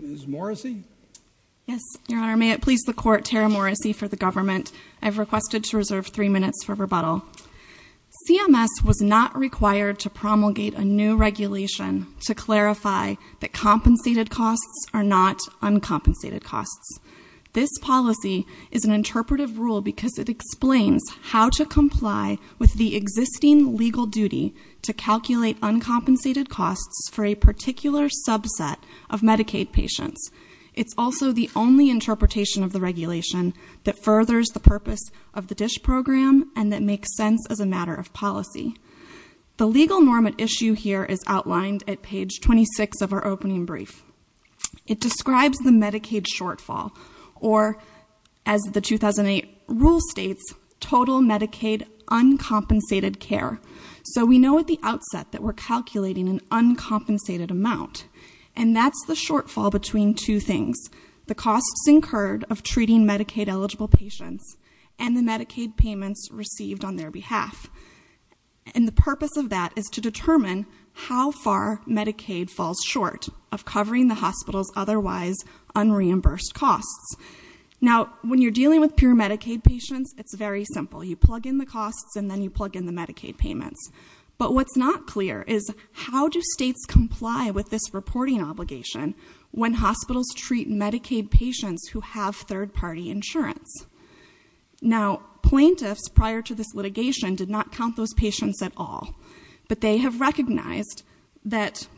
Ms. Morrissey? Yes, Your Honor. May it please the Court, Tara Morrissey for the government. I've requested to reserve three minutes for rebuttal. CMS was not required to promulgate a new regulation to clarify that compensated costs are not uncompensated costs. This policy is an interpretive rule because it explains how to comply with the existing legal duty to calculate uncompensated costs for a particular subset of Medicaid patients. It's also the only interpretation of the regulation that furthers the purpose of the DISH program and that makes sense as a matter of policy. The legal norm at issue here is outlined at page 26 of our opening brief. It describes the Medicaid shortfall or as the 2008 rule states, total Medicaid uncompensated care. So we know at the amount. And that's the shortfall between two things. The costs incurred of treating Medicaid eligible patients and the Medicaid payments received on their behalf. And the purpose of that is to determine how far Medicaid falls short of covering the hospital's otherwise unreimbursed costs. Now when you're dealing with pure Medicaid patients, it's very simple. You plug in the costs and then you plug in the Medicaid payments. But what's not clear is how do states comply with this reporting obligation when hospitals treat Medicaid patients who have third party insurance? Now plaintiffs prior to this litigation did not count those patients at all. But they have recognized that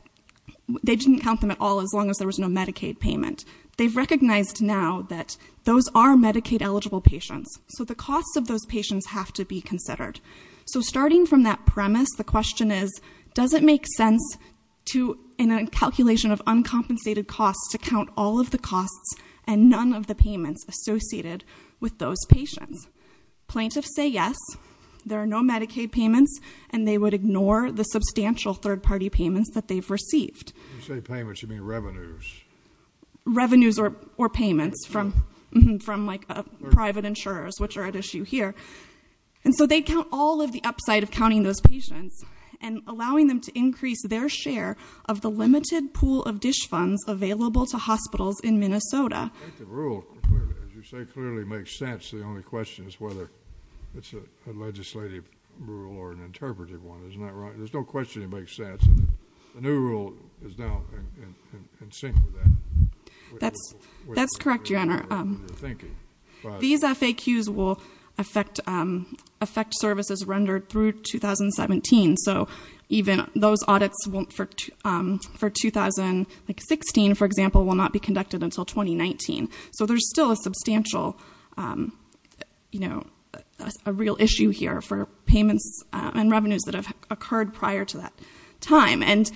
they didn't count them at all as long as there was no Medicaid payment. They've recognized now that those are Medicaid eligible patients. So the costs of those patients have to be considered. So starting from that premise, the question is, does it make sense to, in a calculation of uncompensated costs, to count all of the costs and none of the payments associated with those patients? Plaintiffs say yes. There are no Medicaid payments. And they would ignore the substantial third party payments that they've received. When you say payments, you mean revenues? Revenues or payments from like private insurers, which are at issue here. And so they count all of the upside of counting those patients and allowing them to increase their share of the limited pool of DISH funds available to hospitals in Minnesota. I think the rule, as you say, clearly makes sense. The only question is whether it's a legislative rule or an interpretive one. Isn't that right? There's no question it makes sense. The new rule is now in sync with that. That's correct, Your Honor. These FAQs will affect services rendered through 2017. So even those audits for 2016, for example, will not be conducted until 2019. So there's still a substantial, a real issue here for payments and revenues that have occurred prior to that time. And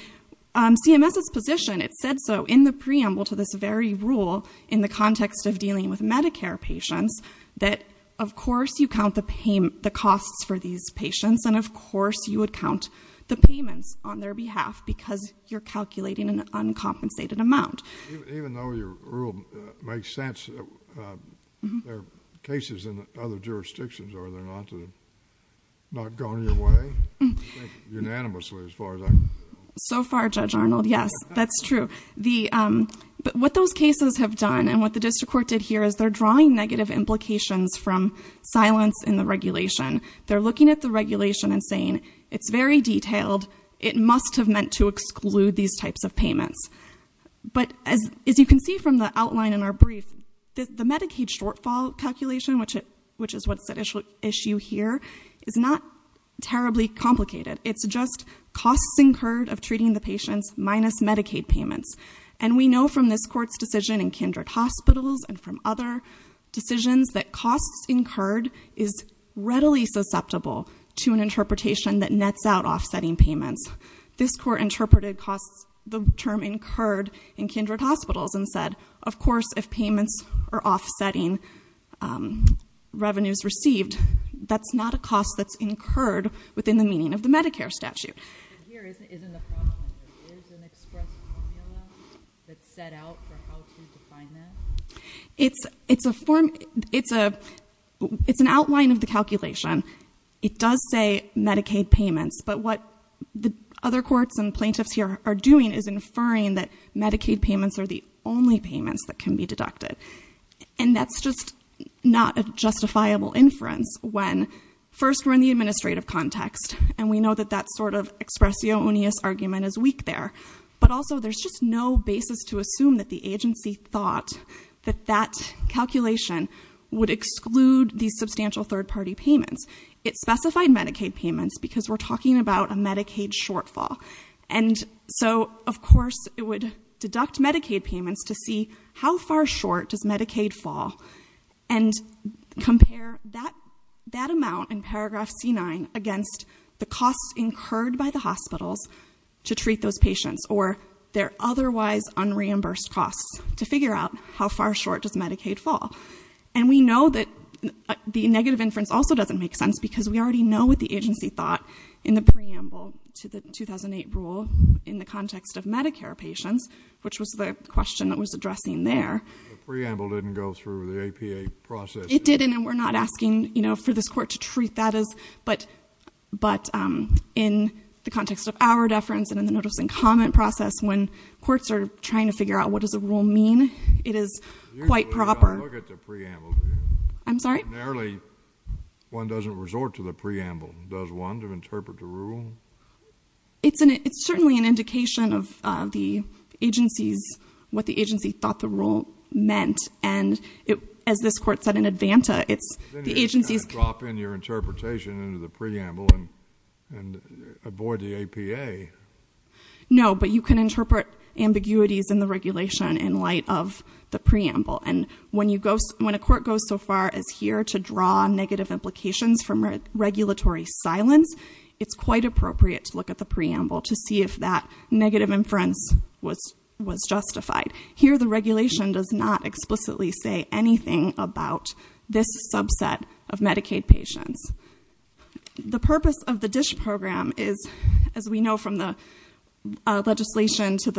CMS's position, it said so in the preamble to this very rule in the context of dealing with Medicare patients that, of course, you count the benefits on their behalf because you're calculating an uncompensated amount. Even though your rule makes sense, there are cases in other jurisdictions, are there not that have not gone your way? Unanimously, as far as I... So far, Judge Arnold, yes, that's true. But what those cases have done and what the district court did here is they're drawing negative implications from silence in the regulation. They're looking at the regulation and it's very detailed. It must have meant to exclude these types of payments. But as you can see from the outline in our brief, the Medicaid shortfall calculation, which is what's at issue here, is not terribly complicated. It's just costs incurred of treating the patients minus Medicaid payments. And we know from this court's decision in Kindred Hospitals and from other decisions that costs incurred is readily susceptible to an interpretation that nets out offsetting payments. This court interpreted costs, the term incurred, in Kindred Hospitals and said, of course, if payments are offsetting revenues received, that's not a cost that's incurred within the meaning of the Medicare statute. Here isn't a problem. There is an express formula that's set out for how to define that? It's an outline of the calculation. It does say Medicaid payments. But what the other courts and plaintiffs here are doing is inferring that Medicaid payments are the only payments that can be deducted. And that's just not a justifiable inference when, first, we're in the administrative context and we know that that sort of expressio unius argument is weak there. But also, there's just no basis to assume that the agency thought that that calculation would exclude these substantial third-party payments. It specified Medicaid payments because we're talking about a Medicaid shortfall. And so, of course, it would deduct Medicaid payments to see how far short does Medicaid fall and compare that amount in paragraph C-9 against the costs incurred by the hospitals to treat those patients or their otherwise unreimbursed costs to figure out how far short does Medicaid fall. And we know that the negative inference also doesn't make sense because we already know what the agency thought in the preamble to the 2008 rule in the context of Medicare patients, which was the question that was addressing there. The preamble didn't go through the APA process. It didn't, and we're not asking, you know, for this court to treat that as... But in the context of our deference and in the notice and comment process, when courts are trying to figure out what does a rule mean, it is quite proper. You don't look at the preamble, do you? I'm sorry? Ordinarily, one doesn't resort to the preamble, does one, to interpret the rule? It's certainly an indication of the agency's... what the agency thought the rule meant. And as this court said in Advanta, it's the agency's... Then you can't drop in your interpretation into the preamble and avoid the APA. No, but you can interpret ambiguities in the regulation in light of the preamble. And when a court goes so far as here to draw negative implications from regulatory silence, it's quite appropriate to look at the preamble to see if that negative inference was justified. Here the regulation does not explicitly say anything about this subset of Medicaid patients. The purpose of the DISH program is, as we know from the legislation to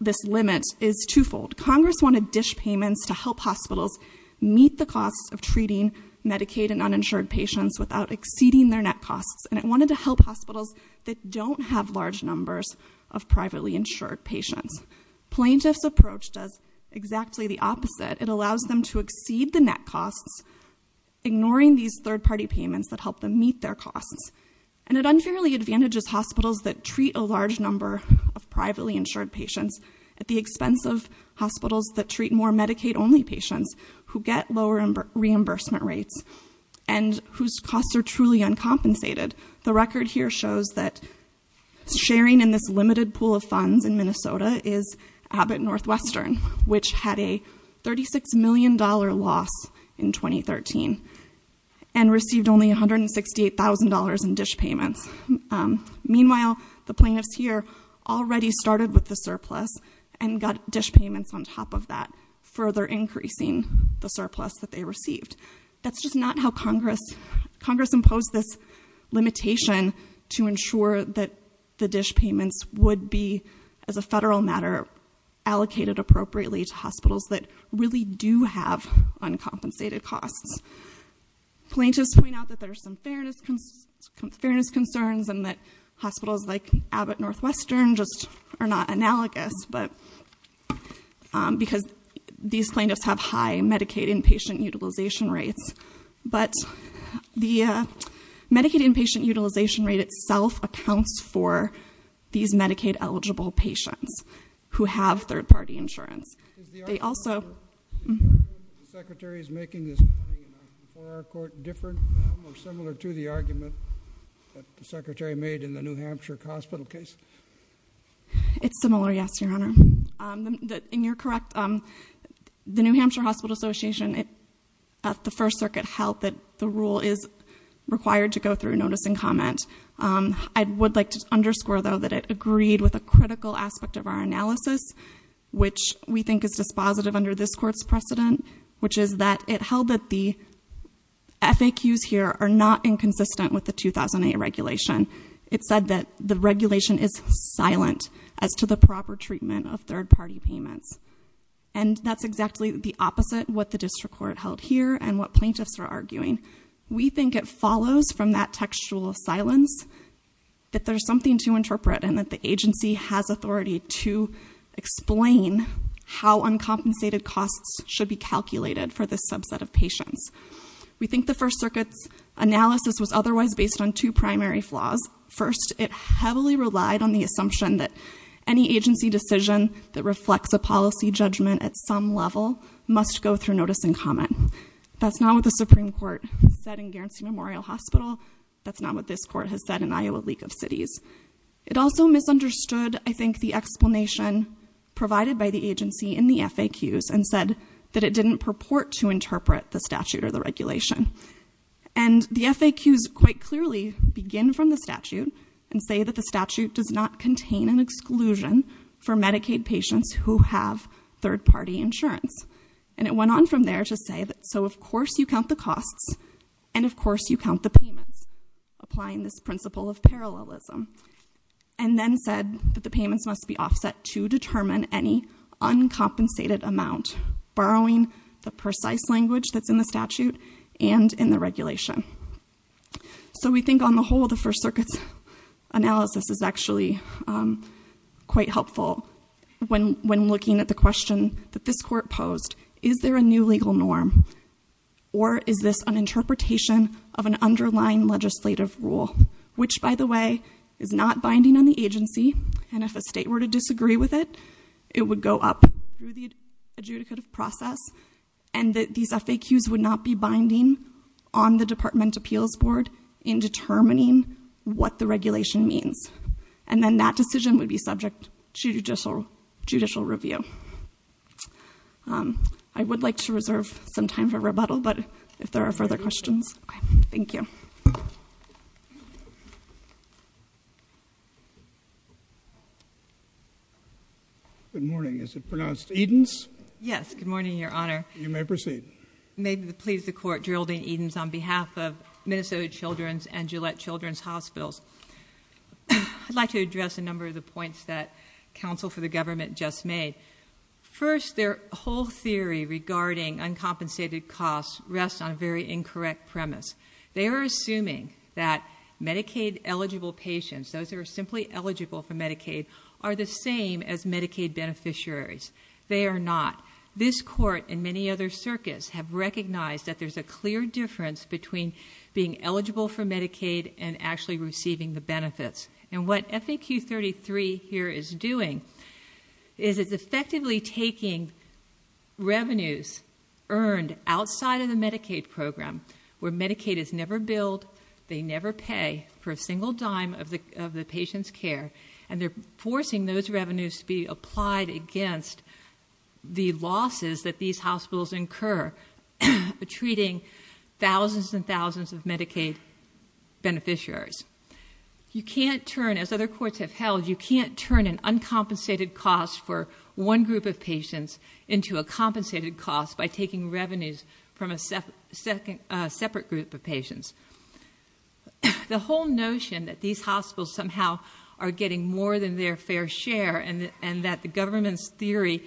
this limit, is twofold. Congress wanted DISH payments to help hospitals meet the costs of treating Medicaid and uninsured patients without exceeding their net costs, and it wanted to help hospitals that don't have large numbers of privately insured patients. Plaintiff's approach does exactly the opposite. It allows them to exceed the net costs, ignoring these third-party payments that help them meet their costs. And it unfairly advantages hospitals that treat a large number of privately insured patients at the expense of hospitals that treat more Medicaid-only patients who get lower reimbursement rates and whose costs are truly uncompensated. The record here shows that sharing in this limited pool of funds in Minnesota is Abbott Northwestern, which had a $36 million loss in 2013 and received only $168,000 in DISH payments. Meanwhile, the plaintiffs here already started with the surplus and got DISH payments on top of that, further increasing the surplus that they received. That's just not how Congress imposed this limitation to ensure that the DISH payments would be, as a federal matter, allocated appropriately to hospitals that really do have uncompensated costs. Plaintiffs point out that there are some fairness concerns and that hospitals like Abbott Northwestern just are not analogous because these plaintiffs have high Medicaid inpatient utilization rates. But the Medicaid inpatient utilization rate itself accounts for these Medicaid-eligible patients who have third-party insurance. They also— Is the argument that the Secretary is making this before our court different or similar to the argument that the Secretary made in the New Hampshire Hospital case? It's similar, yes, Your Honor. In your correct— The New Hampshire Hospital Association at the First Circuit held that the rule is required to go through notice and comment. I would like to underscore, though, that it agreed with a critical aspect of our analysis, which we think is dispositive under this Court's precedent, which is that it held that the FAQs here are not inconsistent with the 2008 regulation. It said that the regulation is silent as to the proper treatment of third-party payments. And that's exactly the opposite of what the district court held here and what plaintiffs are arguing. We think it follows from that textual silence that there's something to interpret and that the agency has authority to explain how uncompensated costs should be calculated for this subset of patients. We think the First Circuit's analysis was otherwise based on two primary flaws. First, it heavily relied on the assumption that any agency decision that reflects a policy judgment at some level must go through notice and comment. That's not what the Supreme Court said in Guernsey Memorial Hospital. That's not what this Court has said in Iowa League of Cities. It also misunderstood, I think, the explanation provided by the agency in the FAQs and said that it didn't purport to interpret the statute or the regulation. And the FAQs quite clearly begin from the statute and say that the statute does not contain an exclusion for Medicaid patients who have third-party insurance. And it went on from there to say that, so of course you count the costs, and of course you count the payments, applying this principle of parallelism. And then said that the payments must be offset to determine any uncompensated amount, borrowing the precise language that's in the statute and in the regulation. So we think on the whole, the First Circuit's analysis is actually quite helpful when looking at the question that this court posed. Is there a new legal norm or is this an interpretation of an underlying legislative rule, which, by the way, is not binding on the agency. And if a state were to disagree with it, it would go up through the adjudicative process. And that these FAQs would not be binding on the Department Appeals Board in determining what the regulation means. And then that decision would be subject to judicial review. I would like to reserve some time for rebuttal, but if there are further questions. Thank you. Good morning. Is it pronounced Edens? Yes, good morning, your honor. You may proceed. May it please the court, Geraldine Edens on behalf of Minnesota Children's and Gillette Children's Hospitals. I'd like to address a number of the points that counsel for the government just made. First, their whole theory regarding uncompensated costs rests on a very incorrect premise. They are assuming that Medicaid eligible patients, those who are simply eligible for Medicaid, are the same as Medicaid beneficiaries. They are not. This court and many other circuits have recognized that there's a clear difference between being eligible for Medicaid and actually receiving the benefits. And what FAQ 33 here is doing is it's effectively taking revenues earned outside of the Medicaid program, where Medicaid is never billed, they never pay for a single dime of the patient's care. And they're forcing those revenues to be applied against the losses that these hospitals incur. Treating thousands and thousands of Medicaid beneficiaries. You can't turn, as other courts have held, you can't turn an uncompensated cost for one group of patients into a compensated cost by taking revenues from a separate group of patients. The whole notion that these hospitals somehow are getting more than their fair share and that the government's theory,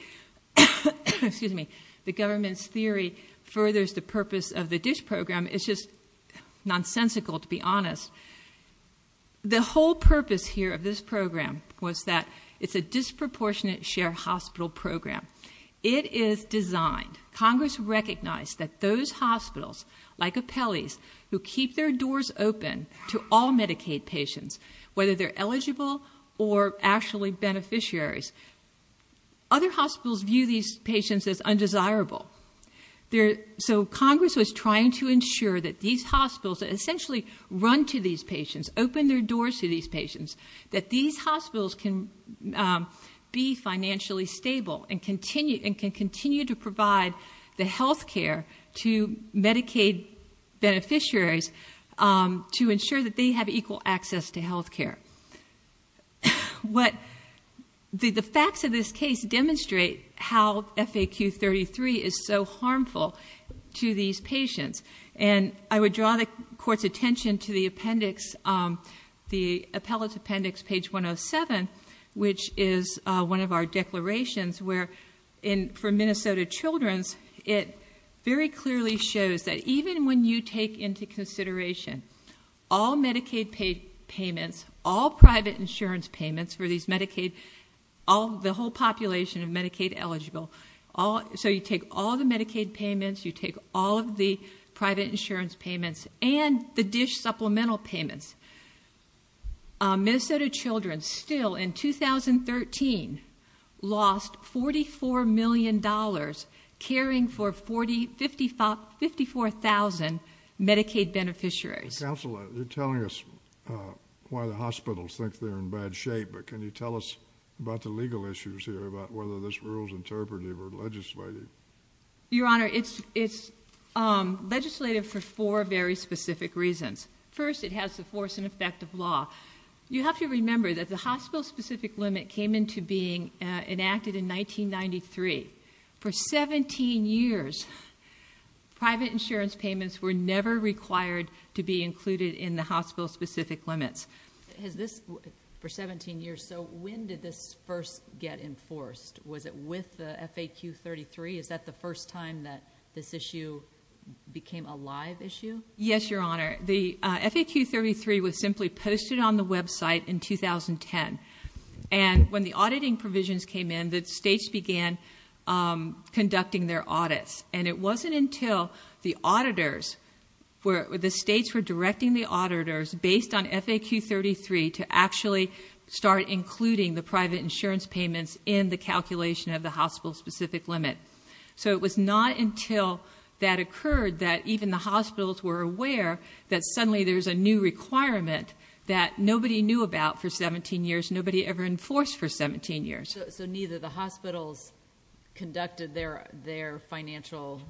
excuse me, the government's theory furthers the purpose of the DISH program is just nonsensical, to be honest. The whole purpose here of this program was that it's a disproportionate share hospital program. It is designed, Congress recognized that those hospitals, like Apelles, who keep their doors open to all Medicaid patients, whether they're eligible or actually beneficiaries, other hospitals view these patients as undesirable. So Congress was trying to ensure that these hospitals essentially run to these patients, open their doors to these patients, that these hospitals can be financially stable and can continue to provide the health care to Medicaid beneficiaries to ensure that they have equal access to health care. The facts of this case demonstrate how FAQ 33 is so harmful to these patients. And I would draw the court's attention to the appellate's appendix page 107, which is one of our declarations where, for Minnesota Children's, it very clearly shows that even when you take into consideration all Medicaid payments, all private insurance payments for these Medicaid, all the whole population of Medicaid eligible, so you take all the Medicaid payments, you take all of the private insurance payments, and the DISH supplemental payments. Minnesota Children's still in 2013 lost $44 million caring for 54,000 Medicaid beneficiaries. Counselor, you're telling us why the hospitals think they're in bad shape, but can you tell us about the legal issues here, about whether this rule's interpretive or legislative? Your Honor, it's legislative for four very specific reasons. First, it has the force and effect of law. You have to remember that the hospital-specific limit came into being enacted in 1993. For 17 years, private insurance payments were never required to be included in the hospital-specific limits. Has this, for 17 years, so when did this first get enforced? Was it with the FAQ 33? Is that the first time that this issue became a live issue? Yes, Your Honor. The FAQ 33 was simply posted on the website in 2010. And when the auditing provisions came in, the states began conducting their audits. And it wasn't until the auditors, where the states were directing the auditors, based on FAQ 33, to actually start including the private insurance payments in the calculation of the hospital-specific limit. So it was not until that occurred that even the hospitals were aware that suddenly there was a new requirement that nobody knew about for 17 years, nobody ever enforced for 17 years. So neither the hospitals conducted their financial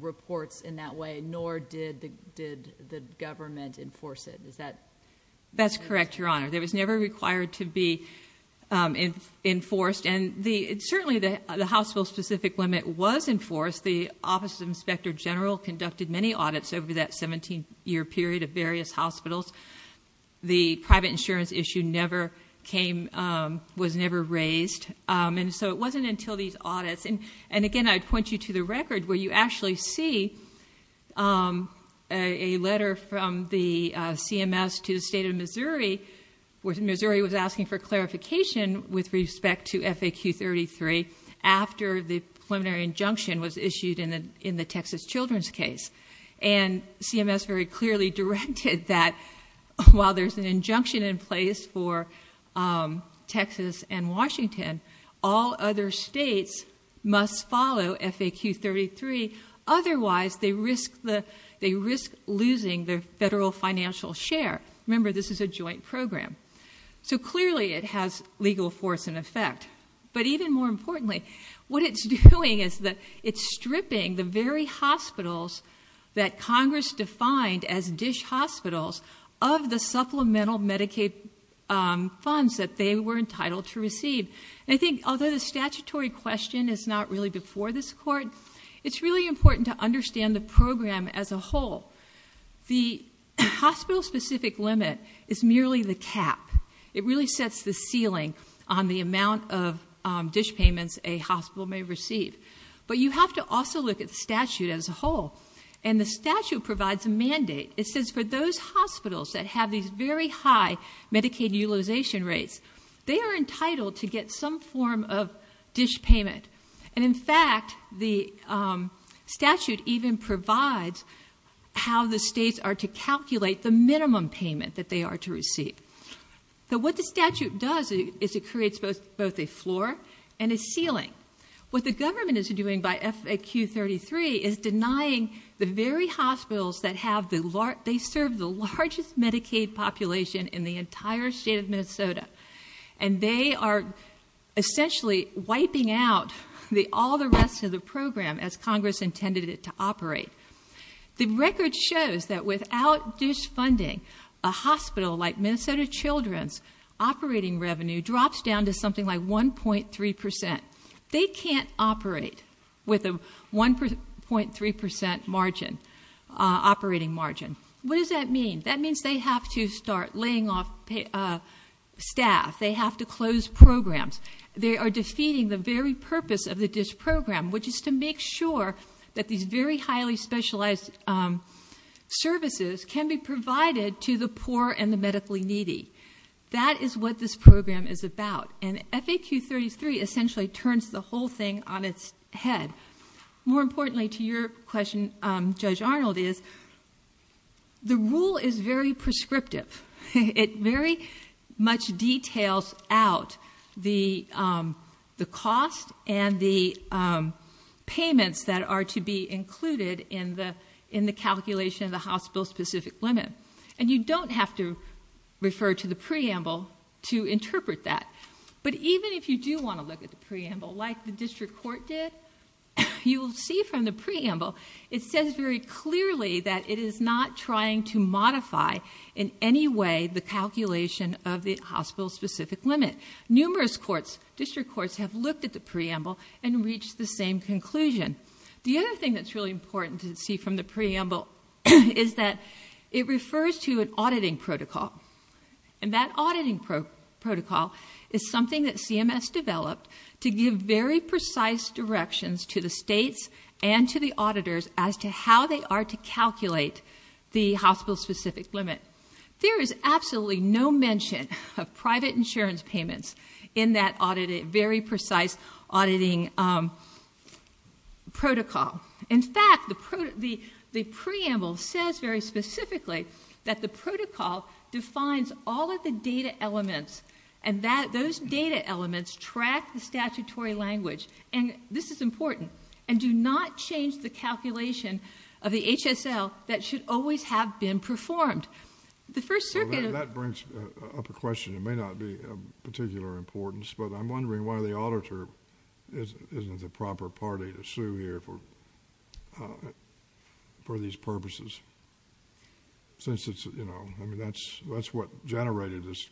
reports in that way, nor did the government enforce it. Is that correct? That's correct, Your Honor. It was never required to be enforced. And certainly, the hospital-specific limit was enforced. The Office of Inspector General conducted many audits over that 17-year period of various hospitals. The private insurance issue was never raised. And so it wasn't until these audits, and again, I'd point you to the record, where you actually see a letter from the CMS to the state of Missouri, where Missouri was asking for clarification with respect to FAQ 33 after the preliminary injunction was issued in the Texas children's case. And CMS very clearly directed that while there's an injunction in place for Texas and Washington, all other states must follow FAQ 33. Otherwise, they risk losing their federal financial share. Remember, this is a joint program. So clearly, it has legal force and effect. But even more importantly, what it's doing is that it's stripping the very hospitals that Congress defined as dish hospitals of the supplemental Medicaid funds that they were entitled to receive. And I think although the statutory question is not really before this court, it's really important to understand the program as a whole. The hospital-specific limit is merely the cap. It really sets the ceiling on the amount of dish payments a hospital may receive. But you have to also look at the statute as a whole. And the statute provides a mandate. It says for those hospitals that have these very high Medicaid utilization rates, they are entitled to get some form of dish payment. And in fact, the statute even provides how the states are to calculate the minimum payment that they are to receive. So what the statute does is it creates both a floor and a ceiling. What the government is doing by FAQ 33 is denying the very hospitals that have the largest, they serve the largest Medicaid population in the entire state of Minnesota. And they are essentially wiping out all the rest of the program as Congress intended it to operate. The record shows that without dish funding, a hospital like Minnesota Children's operating revenue drops down to something like 1.3%. They can't operate with a 1.3% operating margin. What does that mean? That means they have to start laying off staff. They have to close programs. They are defeating the very purpose of the dish program, which is to make sure that these very highly specialized services can be provided to the poor and the medically needy. That is what this program is about, and FAQ 33 essentially turns the whole thing on its head. More importantly to your question, Judge Arnold, is the rule is very prescriptive. It very much details out the cost and the payments that are to be included in the calculation of the hospital specific limit. And you don't have to refer to the preamble to interpret that. But even if you do want to look at the preamble like the district court did, you will see from the preamble, it says very clearly that it is not trying to modify in any way the calculation of the hospital specific limit. Numerous courts, district courts have looked at the preamble and reached the same conclusion. The other thing that's really important to see from the preamble is that it refers to an auditing protocol. And that auditing protocol is something that CMS developed to give very precise directions to the states and to the auditors as to how they are to calculate the hospital specific limit. There is absolutely no mention of private insurance payments in that very precise auditing protocol. In fact, the preamble says very specifically that the protocol defines all of the data elements. And those data elements track the statutory language. And this is important. And do not change the calculation of the HSL that should always have been performed. The first circuit- That brings up a question that may not be of particular importance. But I'm wondering why the auditor isn't the proper party to sue here for these purposes. Since it's, you know, I mean, that's what generated this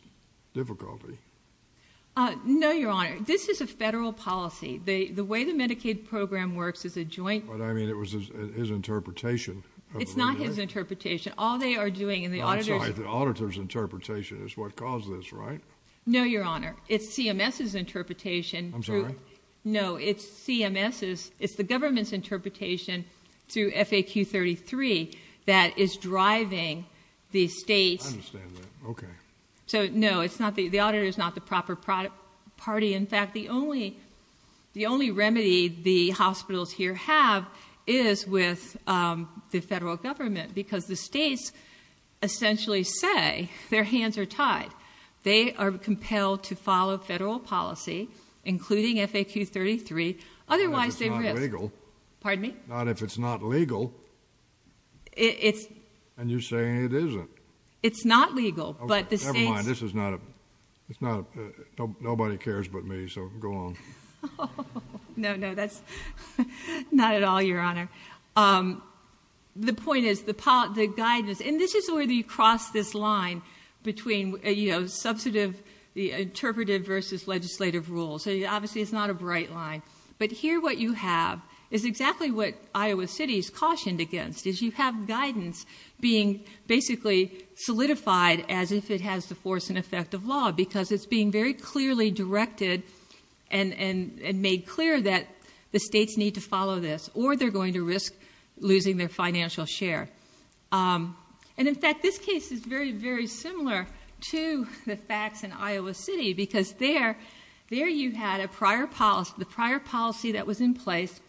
difficulty. No, Your Honor. This is a federal policy. The way the Medicaid program works is a joint- But I mean, it was his interpretation. It's not his interpretation. All they are doing in the auditor's- I'm sorry, the auditor's interpretation is what caused this, right? No, Your Honor. It's CMS's interpretation- I'm sorry? No, it's CMS's. It's the government's interpretation through FAQ 33 that is driving the state's- I understand that, okay. So no, the auditor is not the proper party. In fact, the only remedy the hospitals here have is with the federal government. Because the states essentially say their hands are tied. They are compelled to follow federal policy, including FAQ 33. Otherwise, they- Not if it's not legal. Pardon me? Not if it's not legal. It's- And you're saying it isn't. It's not legal, but the states- Okay, never mind. This is not a, it's not a, nobody cares but me, so go on. No, no, that's not at all, Your Honor. The point is, the guidance, and this is where you cross this line between, you know, substantive, the interpretive versus legislative rules. So, obviously, it's not a bright line. But here what you have is exactly what Iowa City is cautioned against, is you have guidance being basically solidified as if it has the force and effect of law, because it's being very clearly directed and made clear that the states need to follow this, or they're going to risk losing their financial share. And in fact, this case is very, very similar to the facts in Iowa City, because there, there you had a prior policy, the prior policy that was in place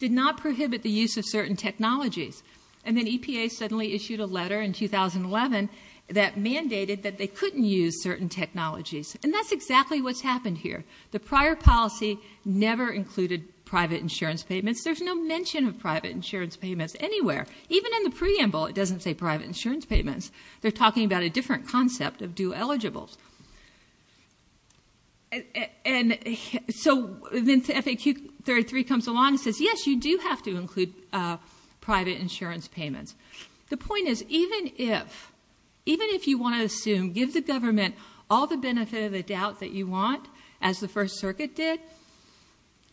did not prohibit the use of certain technologies, and then EPA suddenly issued a letter in 2011 that mandated that they couldn't use certain technologies. And that's exactly what's happened here. The prior policy never included private insurance payments. There's no mention of private insurance payments anywhere. Even in the preamble, it doesn't say private insurance payments. They're talking about a different concept of due eligibles. And so, then FAQ 33 comes along and says, yes, you do have to include private insurance payments. The point is, even if, even if you want to assume, give the government all the benefit of the doubt that you want, as the First Circuit did.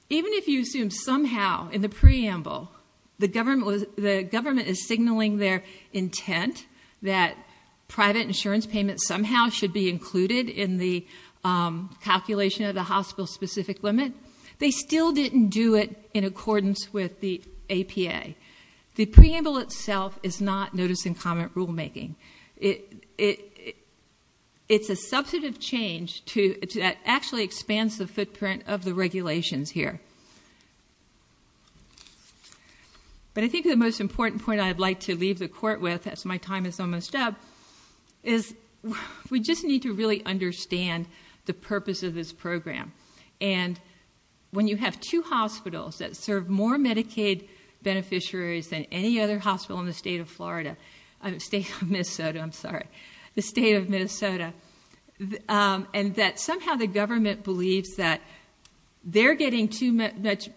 Even if you assume somehow in the preamble, the government was, the government is signaling their intent that private insurance payments somehow should be included in the calculation of the hospital specific limit. They still didn't do it in accordance with the APA. The preamble itself is not notice and comment rule making. It, it, it's a substantive change to, to that actually expands the footprint of the regulations here. But I think the most important point I'd like to leave the court with, as my time is almost up, is we just need to really understand the purpose of this program. And when you have two hospitals that serve more Medicaid beneficiaries than any other hospital in the state of Florida, state of Minnesota, I'm sorry. The state of Minnesota. And that somehow the government believes that they're getting too much,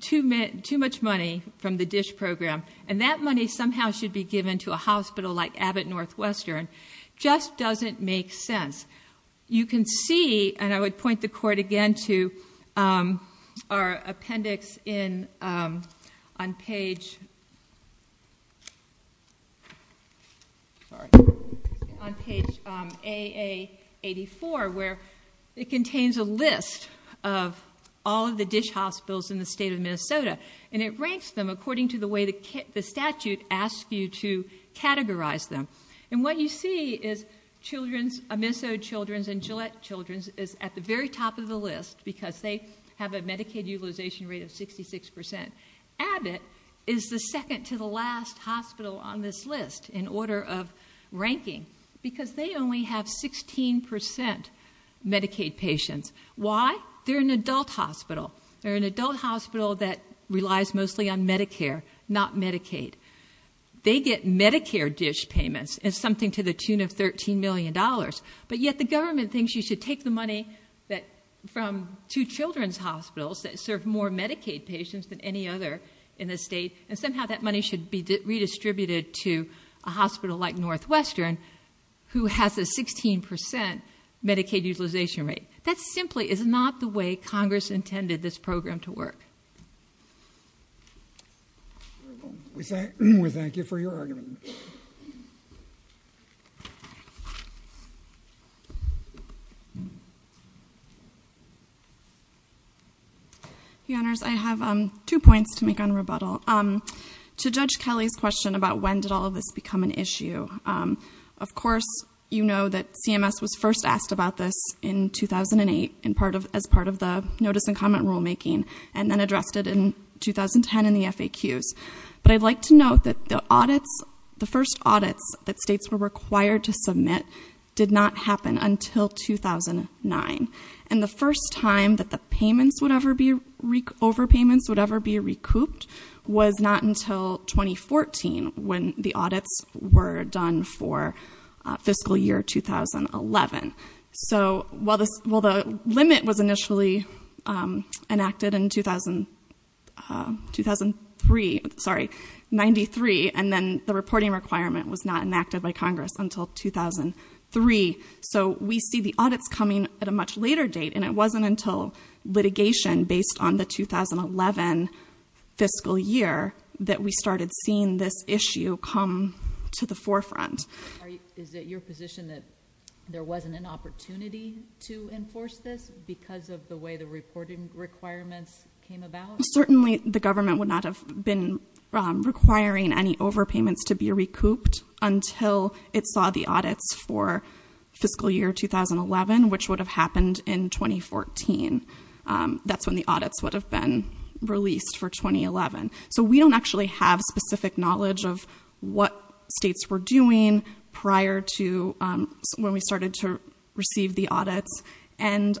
too much, too much money from the DISH program. And that money somehow should be given to a hospital like Abbott Northwestern. Just doesn't make sense. You can see, and I would point the court again to our appendix in on page, sorry, on page AA84 where it contains a list of all of the DISH hospitals in the state of Minnesota. And it ranks them according to the way the statute asks you to categorize them. And what you see is children's, Minnesota Children's and Gillette Children's, is at the very top of the list because they have a Medicaid utilization rate of 66%. Abbott is the second to the last hospital on this list in order of ranking because they only have 16% Medicaid patients. Why? They're an adult hospital. They're an adult hospital that relies mostly on Medicare, not Medicaid. They get Medicare DISH payments as something to the tune of $13 million. But yet the government thinks you should take the money from two children's hospitals that any other in the state, and somehow that money should be redistributed to a hospital like Northwestern who has a 16% Medicaid utilization rate. That simply is not the way Congress intended this program to work. We thank you for your argument. The honors, I have two points to make on rebuttal. To Judge Kelly's question about when did all of this become an issue, of course you know that CMS was first asked about this in 2008 as part of the notice and comment rulemaking, and then addressed it in 2010 in the FAQs. But I'd like to note that the audits, the first audits that states were required to submit did not happen until 2009, and the first time that the payments would ever be, overpayments would ever be recouped, was not until 2014 when the audits were done for fiscal year 2011. So while the limit was initially enacted in 2003, sorry, 93, and then the reporting requirement was not enacted by Congress until 2003. So we see the audits coming at a much later date, and it wasn't until litigation based on the 2011 fiscal year that we started seeing this issue come to the forefront. Is it your position that there wasn't an opportunity to enforce this because of the way the reporting requirements came about? Certainly the government would not have been requiring any overpayments to be recouped until it saw the audits for fiscal year 2011, which would have happened in 2014. That's when the audits would have been released for 2011. So we don't actually have specific knowledge of what states were doing prior to when we started to receive the audits. And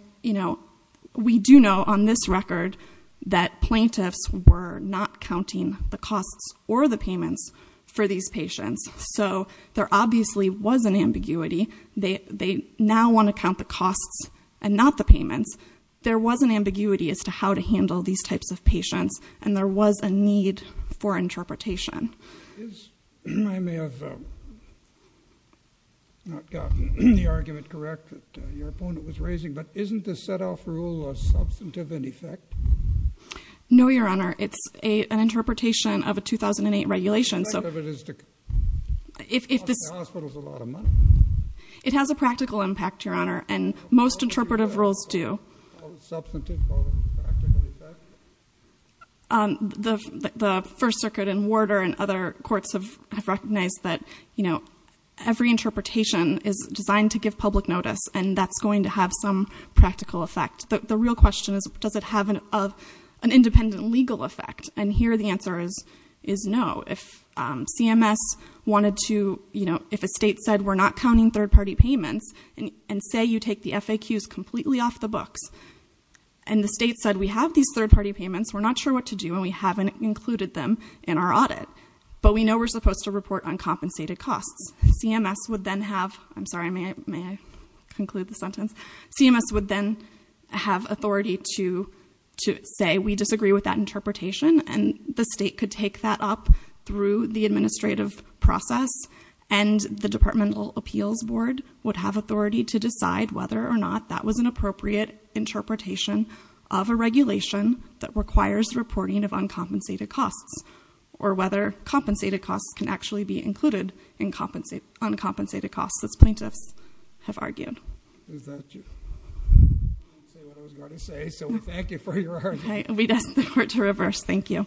we do know on this record that plaintiffs were not counting the costs or the payments for these patients. So there obviously was an ambiguity. They now want to count the costs and not the payments. There was an ambiguity as to how to handle these types of patients, and there was a need for interpretation. I may have not gotten the argument correct that your opponent was raising, but isn't the set-off rule a substantive in effect? No, Your Honor. It's an interpretation of a 2008 regulation. The effect of it is to cost the hospitals a lot of money. It has a practical impact, Your Honor, and most interpretive rules do. Call it substantive, call it a practical effect? The First Circuit and Warder and other courts have recognized that every interpretation is designed to give public notice, and that's going to have some practical effect. The real question is, does it have an independent legal effect? And here the answer is no. If CMS wanted to, if a state said, we're not counting third-party payments, and say you take the FAQs completely off the books, and the state said we have these third-party payments, we're not sure what to do, and we haven't included them in our audit, but we know we're supposed to report on compensated costs, CMS would then have, I'm sorry, may I conclude the sentence? CMS would then have authority to say we disagree with that interpretation, and the state could take that up through the administrative process, and the Departmental Appeals Board would have authority to decide whether or not that was an appropriate interpretation of a regulation that requires reporting of uncompensated costs, or whether compensated costs can actually be included in uncompensated costs, as plaintiffs have argued. Is that it? I didn't say what I was going to say, so we thank you for your argument. We'd ask the Court to reverse. Thank you. Thank you.